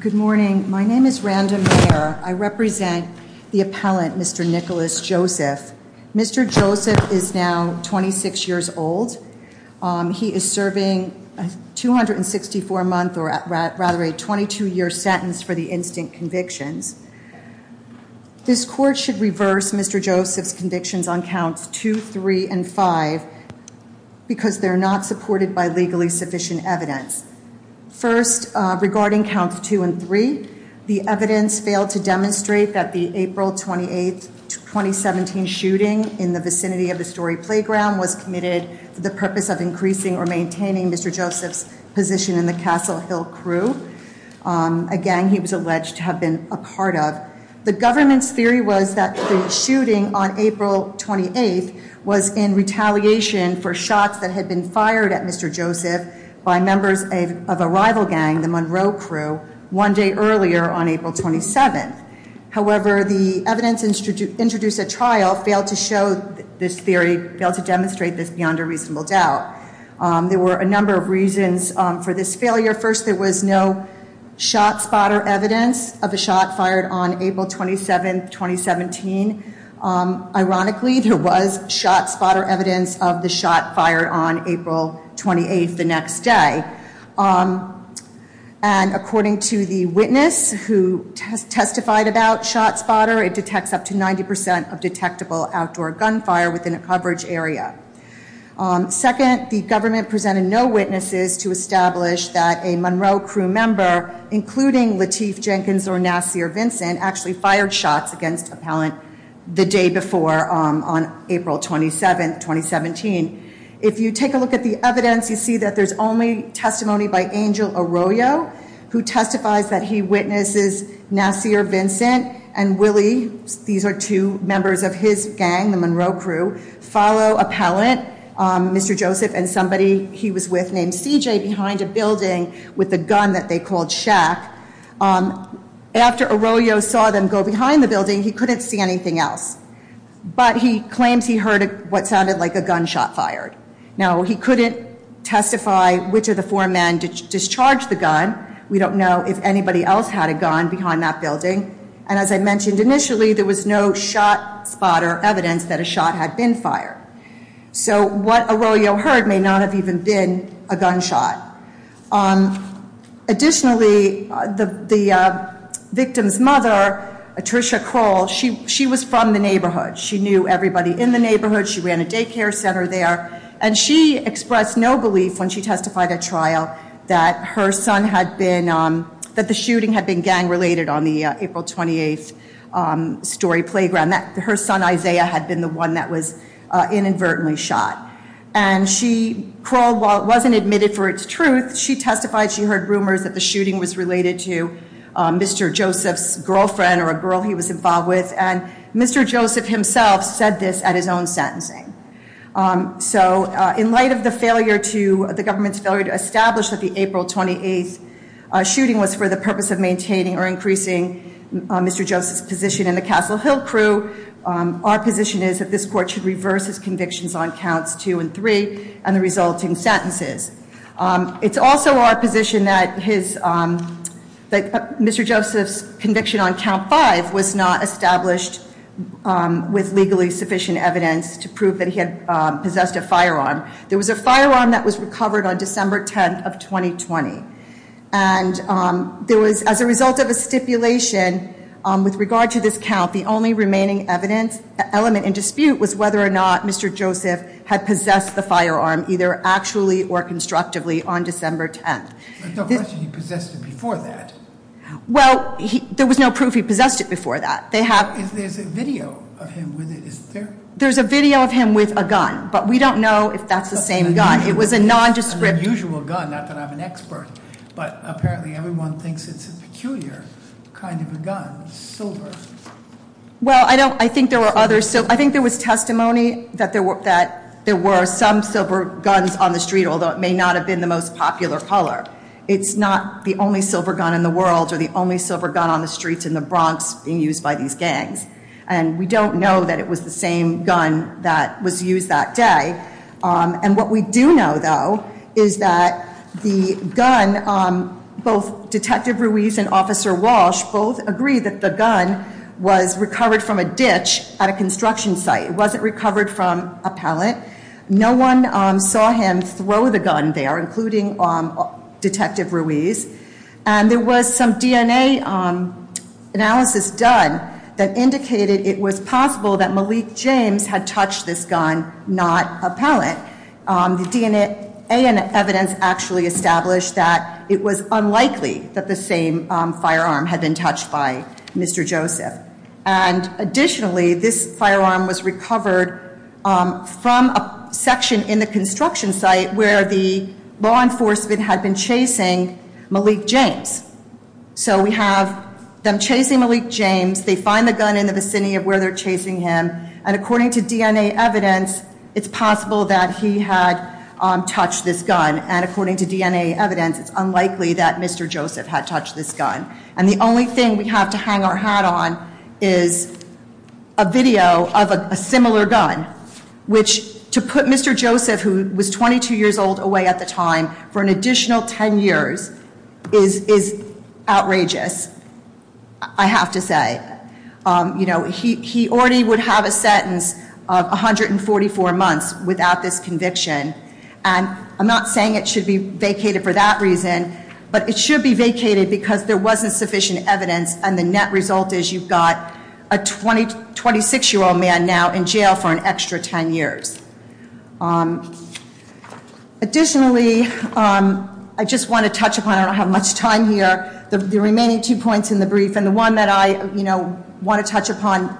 Good morning. My name is Rhonda Mayer. I represent the appellant, Mr. Nicholas Joseph. Mr. Joseph is now 26 years old. He is serving a 264-month or rather a 22-year sentence for the instant convictions. This court should reverse Mr. Joseph's convictions on counts 2, 3, and 5 because they're not supported by legally sufficient evidence. First, regarding counts 2 and 3, the evidence failed to demonstrate that the April 28, 2017 shooting in the vicinity of the Story Playground was committed for the purpose of increasing or maintaining Mr. Joseph's position in the Castle Hill Crew, a gang he was alleged to have been a part of. The government's theory was that the shooting on April 28 was in retaliation for shots that had been fired at Mr. Joseph by members of a rival gang, the Monroe Crew, one day earlier on April 27. However, the evidence introduced at trial failed to demonstrate this beyond a reasonable doubt. There were a number of reasons for this failure. First, there was no shot spotter evidence of a shot fired on April 27, 2017. Ironically, there was shot spotter evidence of the shot fired on April 28 the next day. And according to the witness who testified about shot spotter, it detects up to 90% of detectable outdoor gunfire within a coverage area. Second, the government presented no witnesses to establish that a Monroe Crew member, including Lateef Jenkins or Nassir Vincent, actually fired shots against Appellant the day before on April 27, 2017. If you take a look at the evidence, you see that there's only testimony by Angel Arroyo, who testifies that he witnesses Nassir Vincent and Willie, these are two members of his gang, the Monroe Crew, follow Appellant, Mr. Joseph, and somebody he was with named CJ, behind a building with a gun that they called Shaq. After Arroyo saw them go behind the building, he couldn't see anything else. But he claims he heard what sounded like a gunshot fired. Now, he couldn't testify which of the four men discharged the gun. We don't know if anybody else had a gun behind that building. And as I mentioned initially, there was no shot spotter evidence that a shot had been fired. So what Arroyo heard may not have even been a gunshot. Additionally, the victim's mother, Tricia Kroll, she was from the neighborhood. She knew everybody in the neighborhood. She ran a daycare center there. And she expressed no belief when she testified at trial that the shooting had been gang-related on the April 28 story playground, that her son Isaiah had been the one that was inadvertently shot. And she, Kroll, while it wasn't admitted for its truth, she testified she heard rumors that the shooting was related to Mr. Joseph's girlfriend or a girl he was involved with. And Mr. Joseph himself said this at his own sentencing. So in light of the government's failure to establish that the April 28 shooting was for the purpose of maintaining or increasing Mr. Joseph's position in the Castle Hill crew, our position is that this court should reverse its convictions on counts two and three and the resulting sentences. It's also our position that Mr. Joseph's conviction on count five was not established with legally sufficient evidence to prove that he had possessed a firearm. There was a firearm that was recovered on December 10th of 2020. And there was, as a result of a stipulation with regard to this count, the only remaining element in dispute was whether or not Mr. Joseph had possessed the firearm, either actually or constructively, on December 10th. There's no question he possessed it before that. Well, there was no proof he possessed it before that. There's a video of him with it, isn't there? But we don't know if that's the same gun. It was a nondescript- An unusual gun, not that I'm an expert. But apparently everyone thinks it's a peculiar kind of a gun, silver. Well, I think there were others. So I think there was testimony that there were some silver guns on the street, although it may not have been the most popular color. It's not the only silver gun in the world or the only silver gun on the streets in the Bronx being used by these gangs. And we don't know that it was the same gun that was used that day. And what we do know, though, is that the gun, both Detective Ruiz and Officer Walsh both agree that the gun was recovered from a ditch at a construction site. It wasn't recovered from a pellet. No one saw him throw the gun there, including Detective Ruiz. And there was some DNA analysis done that indicated it was possible that Malik James had touched this gun, not a pellet. The DNA evidence actually established that it was unlikely that the same firearm had been touched by Mr. Joseph. And additionally, this firearm was recovered from a section in the construction site where the law enforcement had been chasing Malik James. So we have them chasing Malik James. They find the gun in the vicinity of where they're chasing him. And according to DNA evidence, it's possible that he had touched this gun. And according to DNA evidence, it's unlikely that Mr. Joseph had touched this gun. And the only thing we have to hang our hat on is a video of a similar gun, which to put Mr. Joseph, who was 22 years old away at the time, for an additional 10 years is outrageous, I have to say. You know, he already would have a sentence of 144 months without this conviction. And I'm not saying it should be vacated for that reason, but it should be vacated because there wasn't sufficient evidence. And the net result is you've got a 26-year-old man now in jail for an extra 10 years. Additionally, I just want to touch upon, I don't have much time here, the remaining two points in the brief. And the one that I want to touch upon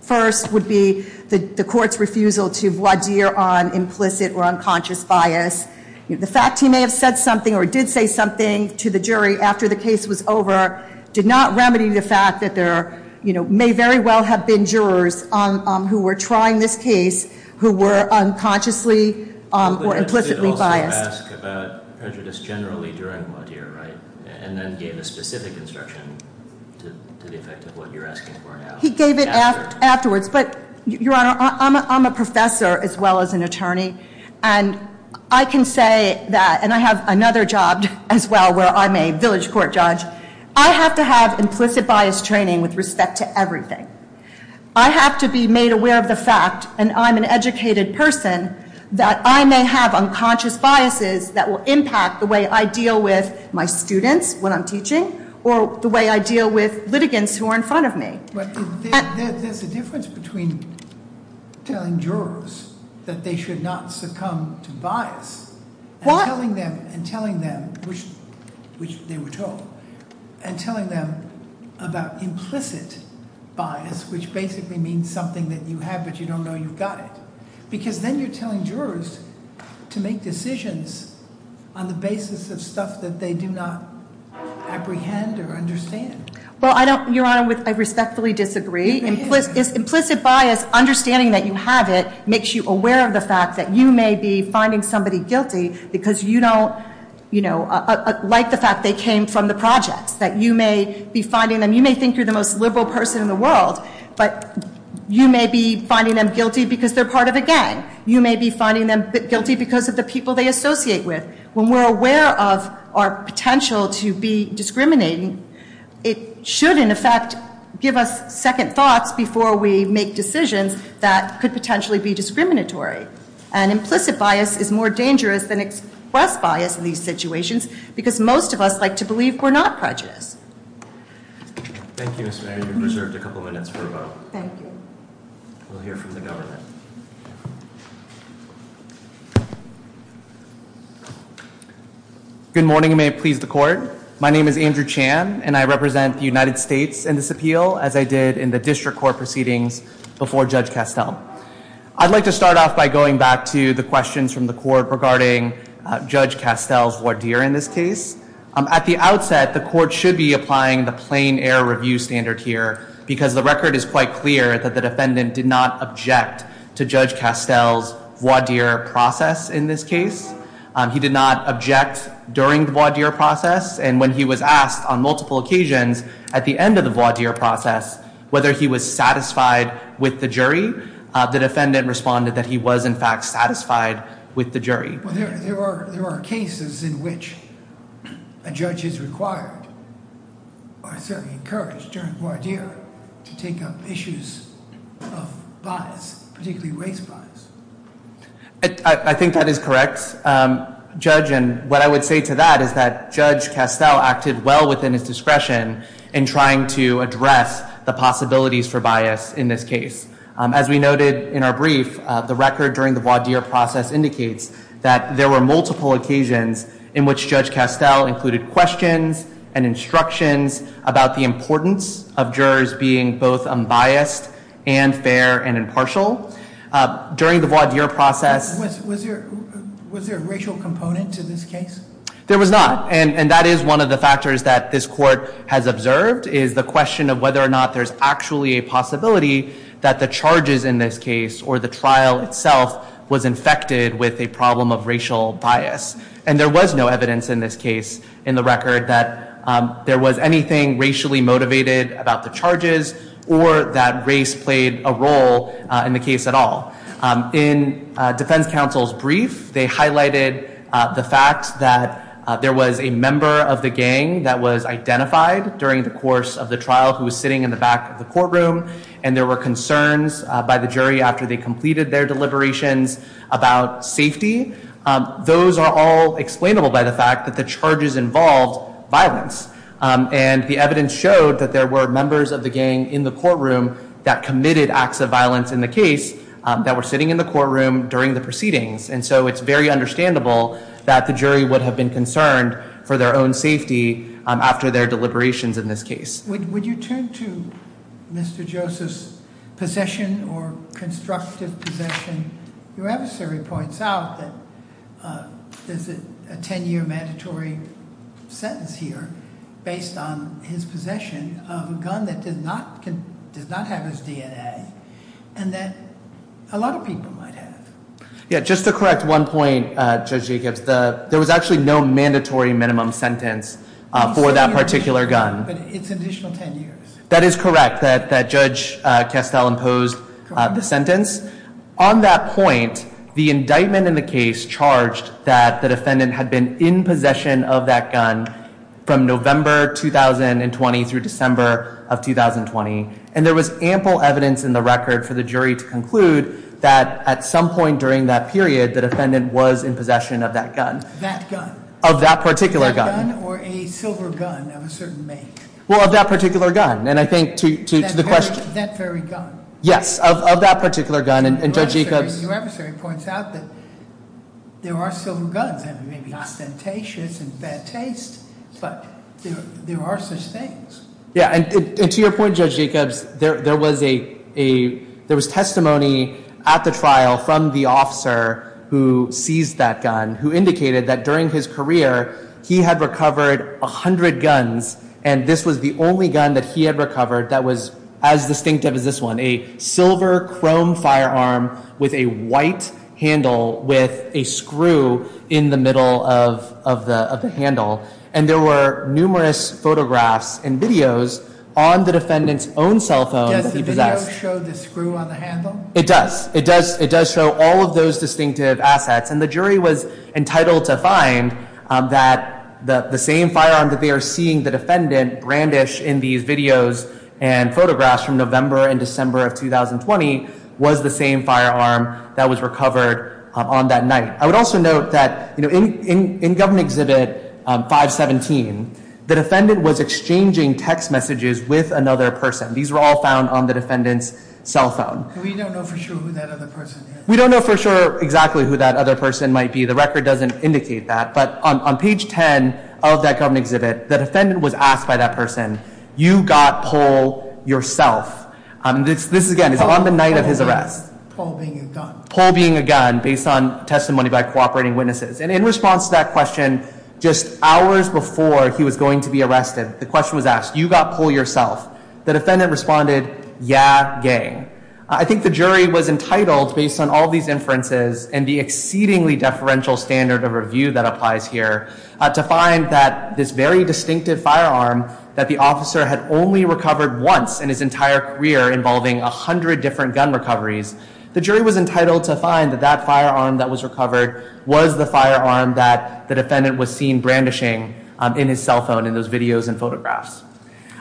first would be the court's refusal to voir dire on implicit or unconscious bias. The fact he may have said something or did say something to the jury after the case was over did not remedy the fact that there may very well have been jurors who were trying this case who were unconsciously or implicitly biased. He did also ask about prejudice generally during voir dire, right? And then gave a specific instruction to the effect of what you're asking for now. He gave it afterwards. But, Your Honor, I'm a professor as well as an attorney. And I can say that, and I have another job as well where I'm a village court judge, I have to have implicit bias training with respect to everything. I have to be made aware of the fact, and I'm an educated person, that I may have unconscious biases that will impact the way I deal with my students when I'm teaching, or the way I deal with litigants who are in front of me. But there's a difference between telling jurors that they should not succumb to bias and telling them, which they were told, and telling them about implicit bias, which basically means something that you have but you don't know you've got it. Because then you're telling jurors to make decisions on the basis of stuff that they do not apprehend or understand. Well, I don't, Your Honor, I respectfully disagree. Implicit bias, understanding that you have it, makes you aware of the fact that you may be finding somebody guilty because you don't like the fact they came from the projects. That you may be finding them, you may think you're the most liberal person in the world, but you may be finding them guilty because they're part of a gang. You may be finding them guilty because of the people they associate with. When we're aware of our potential to be discriminating, it should, in effect, give us second thoughts before we make decisions that could potentially be discriminatory. And implicit bias is more dangerous than express bias in these situations because most of us like to believe we're not prejudiced. Thank you, Ms. Mayer. You've been preserved a couple minutes for a vote. Thank you. We'll hear from the government. Good morning, and may it please the court. My name is Andrew Chan, and I represent the United States in this appeal, as I did in the district court proceedings before Judge Castell. I'd like to start off by going back to the questions from the court regarding Judge Castell's voir dire in this case. At the outset, the court should be applying the plain error review standard here because the record is quite clear that the defendant did not object to Judge Castell's voir dire process in this case. He did not object during the voir dire process, and when he was asked on multiple occasions at the end of the voir dire process whether he was satisfied with the jury, the defendant responded that he was, in fact, satisfied with the jury. There are cases in which a judge is required, or certainly encouraged, during voir dire to take up issues of bias, particularly race bias. I think that is correct, Judge, and what I would say to that is that Judge Castell acted well within his discretion in trying to address the possibilities for bias in this case. As we noted in our brief, the record during the voir dire process indicates that there were multiple occasions in which Judge Castell included questions and instructions about the importance of jurors being both unbiased and fair and impartial. During the voir dire process... Was there a racial component to this case? There was not, and that is one of the factors that this court has observed, is the question of whether or not there's actually a possibility that the charges in this case or the trial itself was infected with a problem of racial bias. And there was no evidence in this case in the record that there was anything racially motivated about the charges or that race played a role in the case at all. In defense counsel's brief, they highlighted the fact that there was a member of the gang that was identified during the course of the trial who was sitting in the back of the courtroom and there were concerns by the jury after they completed their deliberations about safety. Those are all explainable by the fact that the charges involved violence. And the evidence showed that there were members of the gang in the courtroom that committed acts of violence in the case that were sitting in the courtroom during the proceedings. And so it's very understandable that the jury would have been concerned for their own safety after their deliberations in this case. Would you turn to Mr. Joseph's possession or constructive possession? Your adversary points out that there's a ten-year mandatory sentence here based on his possession of a gun that does not have his DNA and that a lot of people might have. Yeah, just to correct one point, Judge Jacobs, there was actually no mandatory minimum sentence for that particular gun. But it's an additional ten years. That is correct, that Judge Castell imposed the sentence. On that point, the indictment in the case charged that the defendant had been in possession of that gun from November 2020 through December of 2020. And there was ample evidence in the record for the jury to conclude that at some point during that period the defendant was in possession of that gun. That gun? Of that particular gun. That gun or a silver gun of a certain make? Well, of that particular gun. And I think to the question... That very gun? Yes, of that particular gun. And Judge Jacobs... Your adversary points out that there are silver guns. It may be ostentatious and bad taste, but there are such things. Yeah, and to your point, Judge Jacobs, there was testimony at the trial from the officer who seized that gun who indicated that during his career he had recovered a hundred guns and this was the only gun that he had recovered that was as distinctive as this one. A silver chrome firearm with a white handle with a screw in the middle of the handle. And there were numerous photographs and videos on the defendant's own cell phone that he possessed. Does the video show the screw on the handle? It does. It does show all of those distinctive assets. And the jury was entitled to find that the same firearm that they are seeing the defendant brandish in these videos and photographs from November and December of 2020 was the same firearm that was recovered on that night. I would also note that in Government Exhibit 517, the defendant was exchanging text messages with another person. These were all found on the defendant's cell phone. We don't know for sure who that other person is. The record doesn't indicate that. But on page 10 of that Government Exhibit, the defendant was asked by that person, you got pull yourself. This, again, is on the night of his arrest. Pull being a gun. Pull being a gun based on testimony by cooperating witnesses. And in response to that question, just hours before he was going to be arrested, the question was asked, you got pull yourself. The defendant responded, yeah, gang. I think the jury was entitled, based on all these inferences and the exceedingly deferential standard of review that applies here, to find that this very distinctive firearm that the officer had only recovered once in his entire career involving a hundred different gun recoveries, the jury was entitled to find that that firearm that was recovered was the firearm that the defendant was seen brandishing in his cell phone in those videos and photographs.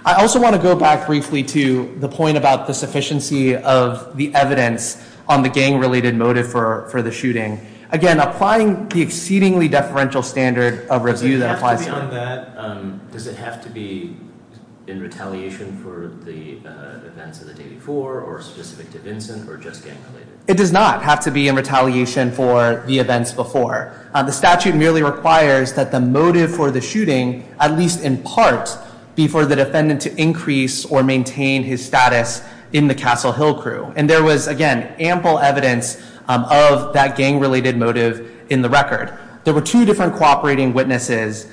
I also want to go back briefly to the point about the sufficiency of the evidence on the gang-related motive for the shooting. Again, applying the exceedingly deferential standard of review that applies here. Does it have to be in retaliation for the events of the day before or specific to Vincent or just gang-related? It does not have to be in retaliation for the events before. The statute merely requires that the motive for the shooting, at least in part, be for the defendant to increase or maintain his status in the Castle Hill crew. And there was, again, ample evidence of that gang-related motive in the record. There were two different cooperating witnesses,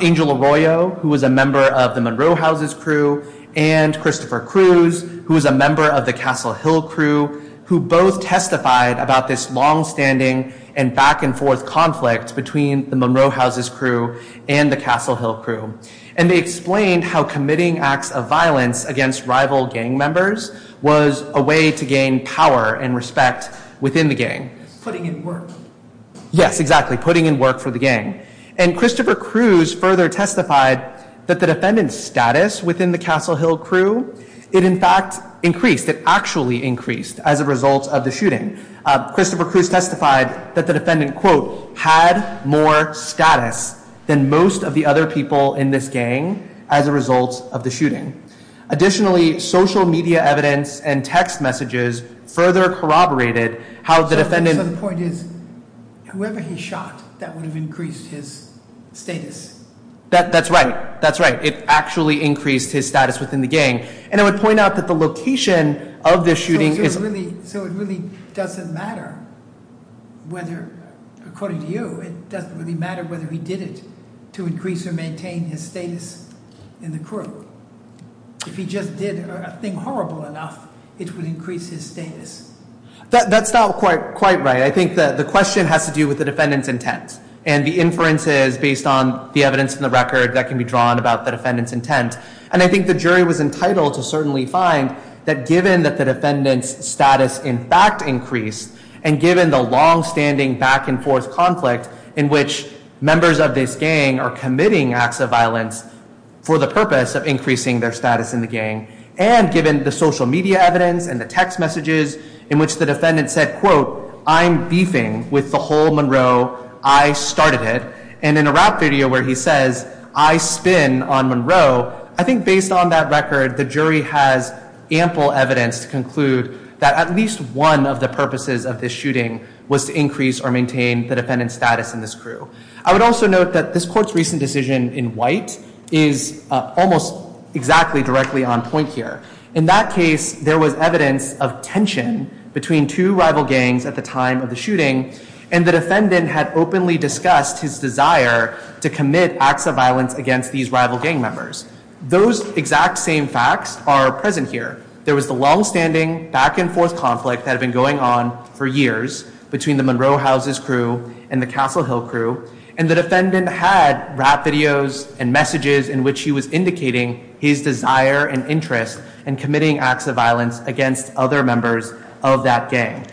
Angel Arroyo, who was a member of the Monroe Houses crew, and Christopher Cruz, who was a member of the Castle Hill crew, who both testified about this longstanding and back-and-forth conflict between the Monroe Houses crew and the Castle Hill crew. And they explained how committing acts of violence against rival gang members was a way to gain power and respect within the gang. Putting in work. Yes, exactly. Putting in work for the gang. And Christopher Cruz further testified that the defendant's status within the Castle Hill crew, it in fact increased, it actually increased as a result of the shooting. Christopher Cruz testified that the defendant, quote, had more status than most of the other people in this gang as a result of the shooting. Additionally, social media evidence and text messages further corroborated how the defendant... So the point is, whoever he shot, that would have increased his status. That's right. That's right. It actually increased his status within the gang. And I would point out that the location of the shooting is... So it really doesn't matter whether, according to you, it doesn't really matter whether he did it to increase or maintain his status in the crew. If he just did a thing horrible enough, it would increase his status. That's not quite right. I think the question has to do with the defendant's intent and the inferences based on the evidence in the record that can be drawn about the defendant's intent. And I think the jury was entitled to certainly find that, given that the defendant's status in fact increased, and given the long-standing back-and-forth conflict in which members of this gang are committing acts of violence for the purpose of increasing their status in the gang, and given the social media evidence and the text messages in which the defendant said, quote, I'm beefing with the whole Monroe. I started it. And in a rap video where he says, I spin on Monroe, I think based on that record the jury has ample evidence to conclude that at least one of the purposes of this shooting was to increase or maintain the defendant's status in this crew. I would also note that this court's recent decision in white is almost exactly directly on point here. In that case, there was evidence of tension between two rival gangs at the time of the shooting, and the defendant had openly discussed his desire to commit acts of violence against these rival gang members. Those exact same facts are present here. There was the long-standing back-and-forth conflict that had been going on for years between the Monroe House's crew and the Castle Hill crew, and the defendant had rap videos and messages in which he was indicating his desire and interest in committing acts of violence against other members of that gang.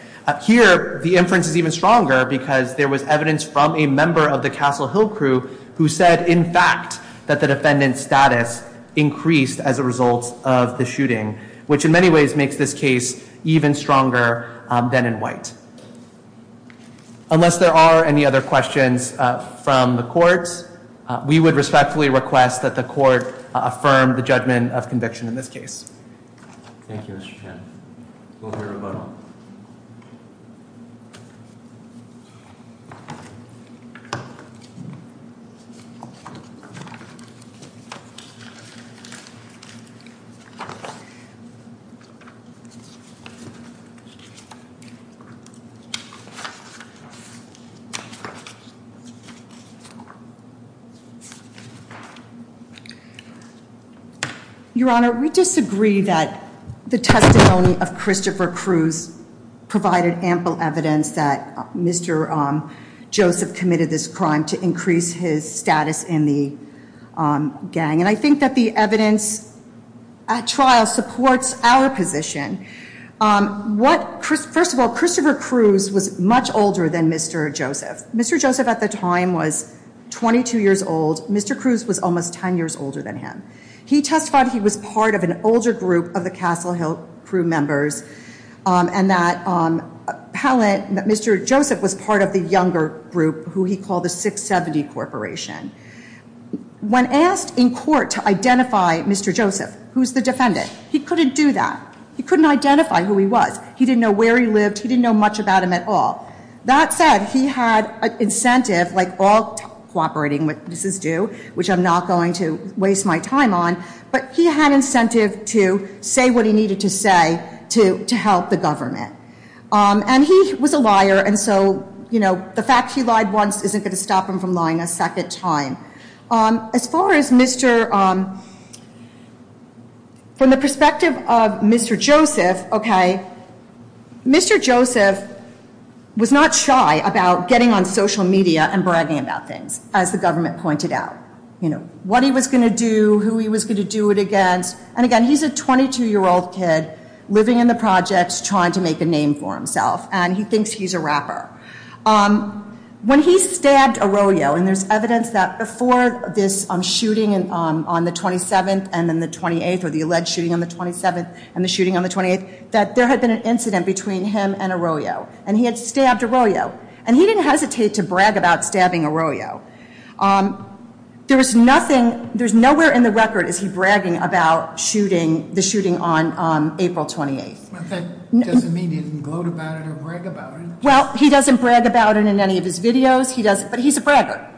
Here, the inference is even stronger because there was evidence from a member of the Castle Hill crew who said, in fact, that the defendant's status increased as a result of the shooting, which in many ways makes this case even stronger than in white. Unless there are any other questions from the courts, we would respectfully request that the court affirm the judgment of conviction in this case. Thank you, Mr. Chen. We'll hear a rebuttal. Your Honor, we disagree that the testimony of Christopher Cruz provided ample evidence that Mr. Joseph committed this crime to increase his status in the gang, and I think that the evidence at trial supports our position. First of all, Christopher Cruz was much older than Mr. Joseph. Mr. Joseph at the time was 22 years old. Mr. Cruz was almost 10 years older than him. He testified he was part of an older group of the Castle Hill crew members and that Mr. Joseph was part of the younger group, who he called the 670 Corporation. When asked in court to identify Mr. Joseph, who's the defendant, he couldn't do that. He couldn't identify who he was. He didn't know where he lived. He didn't know much about him at all. That said, he had an incentive, like all cooperating witnesses do, which I'm not going to waste my time on, but he had incentive to say what he needed to say to help the government. And he was a liar, and so the fact he lied once isn't going to stop him from lying a second time. As far as Mr. From the perspective of Mr. Joseph, okay, Mr. Joseph was not shy about getting on social media and bragging about things, as the government pointed out, what he was going to do, who he was going to do it against. And, again, he's a 22-year-old kid living in the projects trying to make a name for himself, and he thinks he's a rapper. When he stabbed Arroyo, and there's evidence that before this shooting on the 27th and then the 28th, or the alleged shooting on the 27th and the shooting on the 28th, that there had been an incident between him and Arroyo, and he had stabbed Arroyo, and he didn't hesitate to brag about stabbing Arroyo. There's nothing, there's nowhere in the record is he bragging about shooting, the shooting on April 28th. But that doesn't mean he didn't gloat about it or brag about it. Well, he doesn't brag about it in any of his videos, he doesn't, but he's a bragger.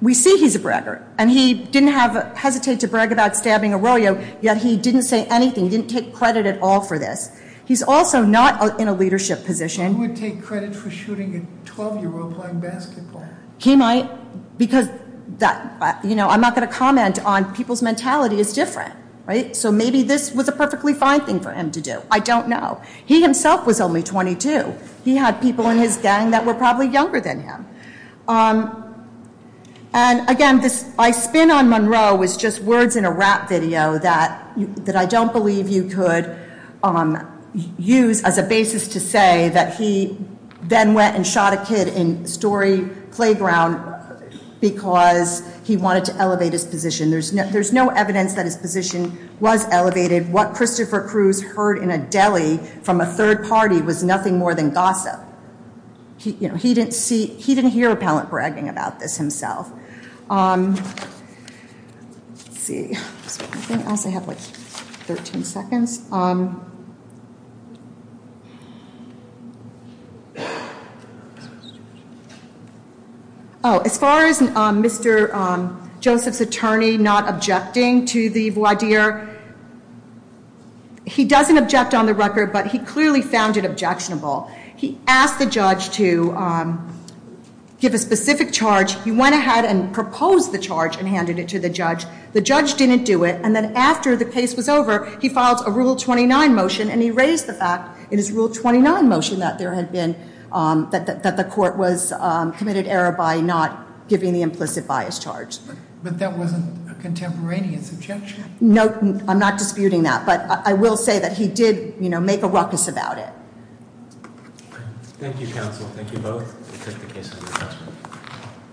We see he's a bragger, and he didn't hesitate to brag about stabbing Arroyo, yet he didn't say anything, he didn't take credit at all for this. He's also not in a leadership position. Who would take credit for shooting a 12-year-old playing basketball? He might, because I'm not going to comment on people's mentality, it's different. So maybe this was a perfectly fine thing for him to do, I don't know. He himself was only 22. He had people in his gang that were probably younger than him. And, again, this I spin on Monroe was just words in a rap video that I don't believe you could use as a basis to say that he then went and shot a kid in Story Playground because he wanted to elevate his position. There's no evidence that his position was elevated. What Christopher Cruz heard in a deli from a third party was nothing more than gossip. He didn't hear a pallant bragging about this himself. As far as Mr. Joseph's attorney not objecting to the voir dire, he doesn't object on the record, but he clearly found it objectionable. He asked the judge to give a specific charge. He went ahead and proposed the charge and handed it to the judge. The judge didn't do it, and then after the case was over, he filed a Rule 29 motion, and he raised the fact in his Rule 29 motion that there had been, that the court was committed error by not giving the implicit bias charge. But that wasn't a contemporaneous objection. No, I'm not disputing that, but I will say that he did make a ruckus about it. Thank you, counsel. Thank you both. We take the case under assessment.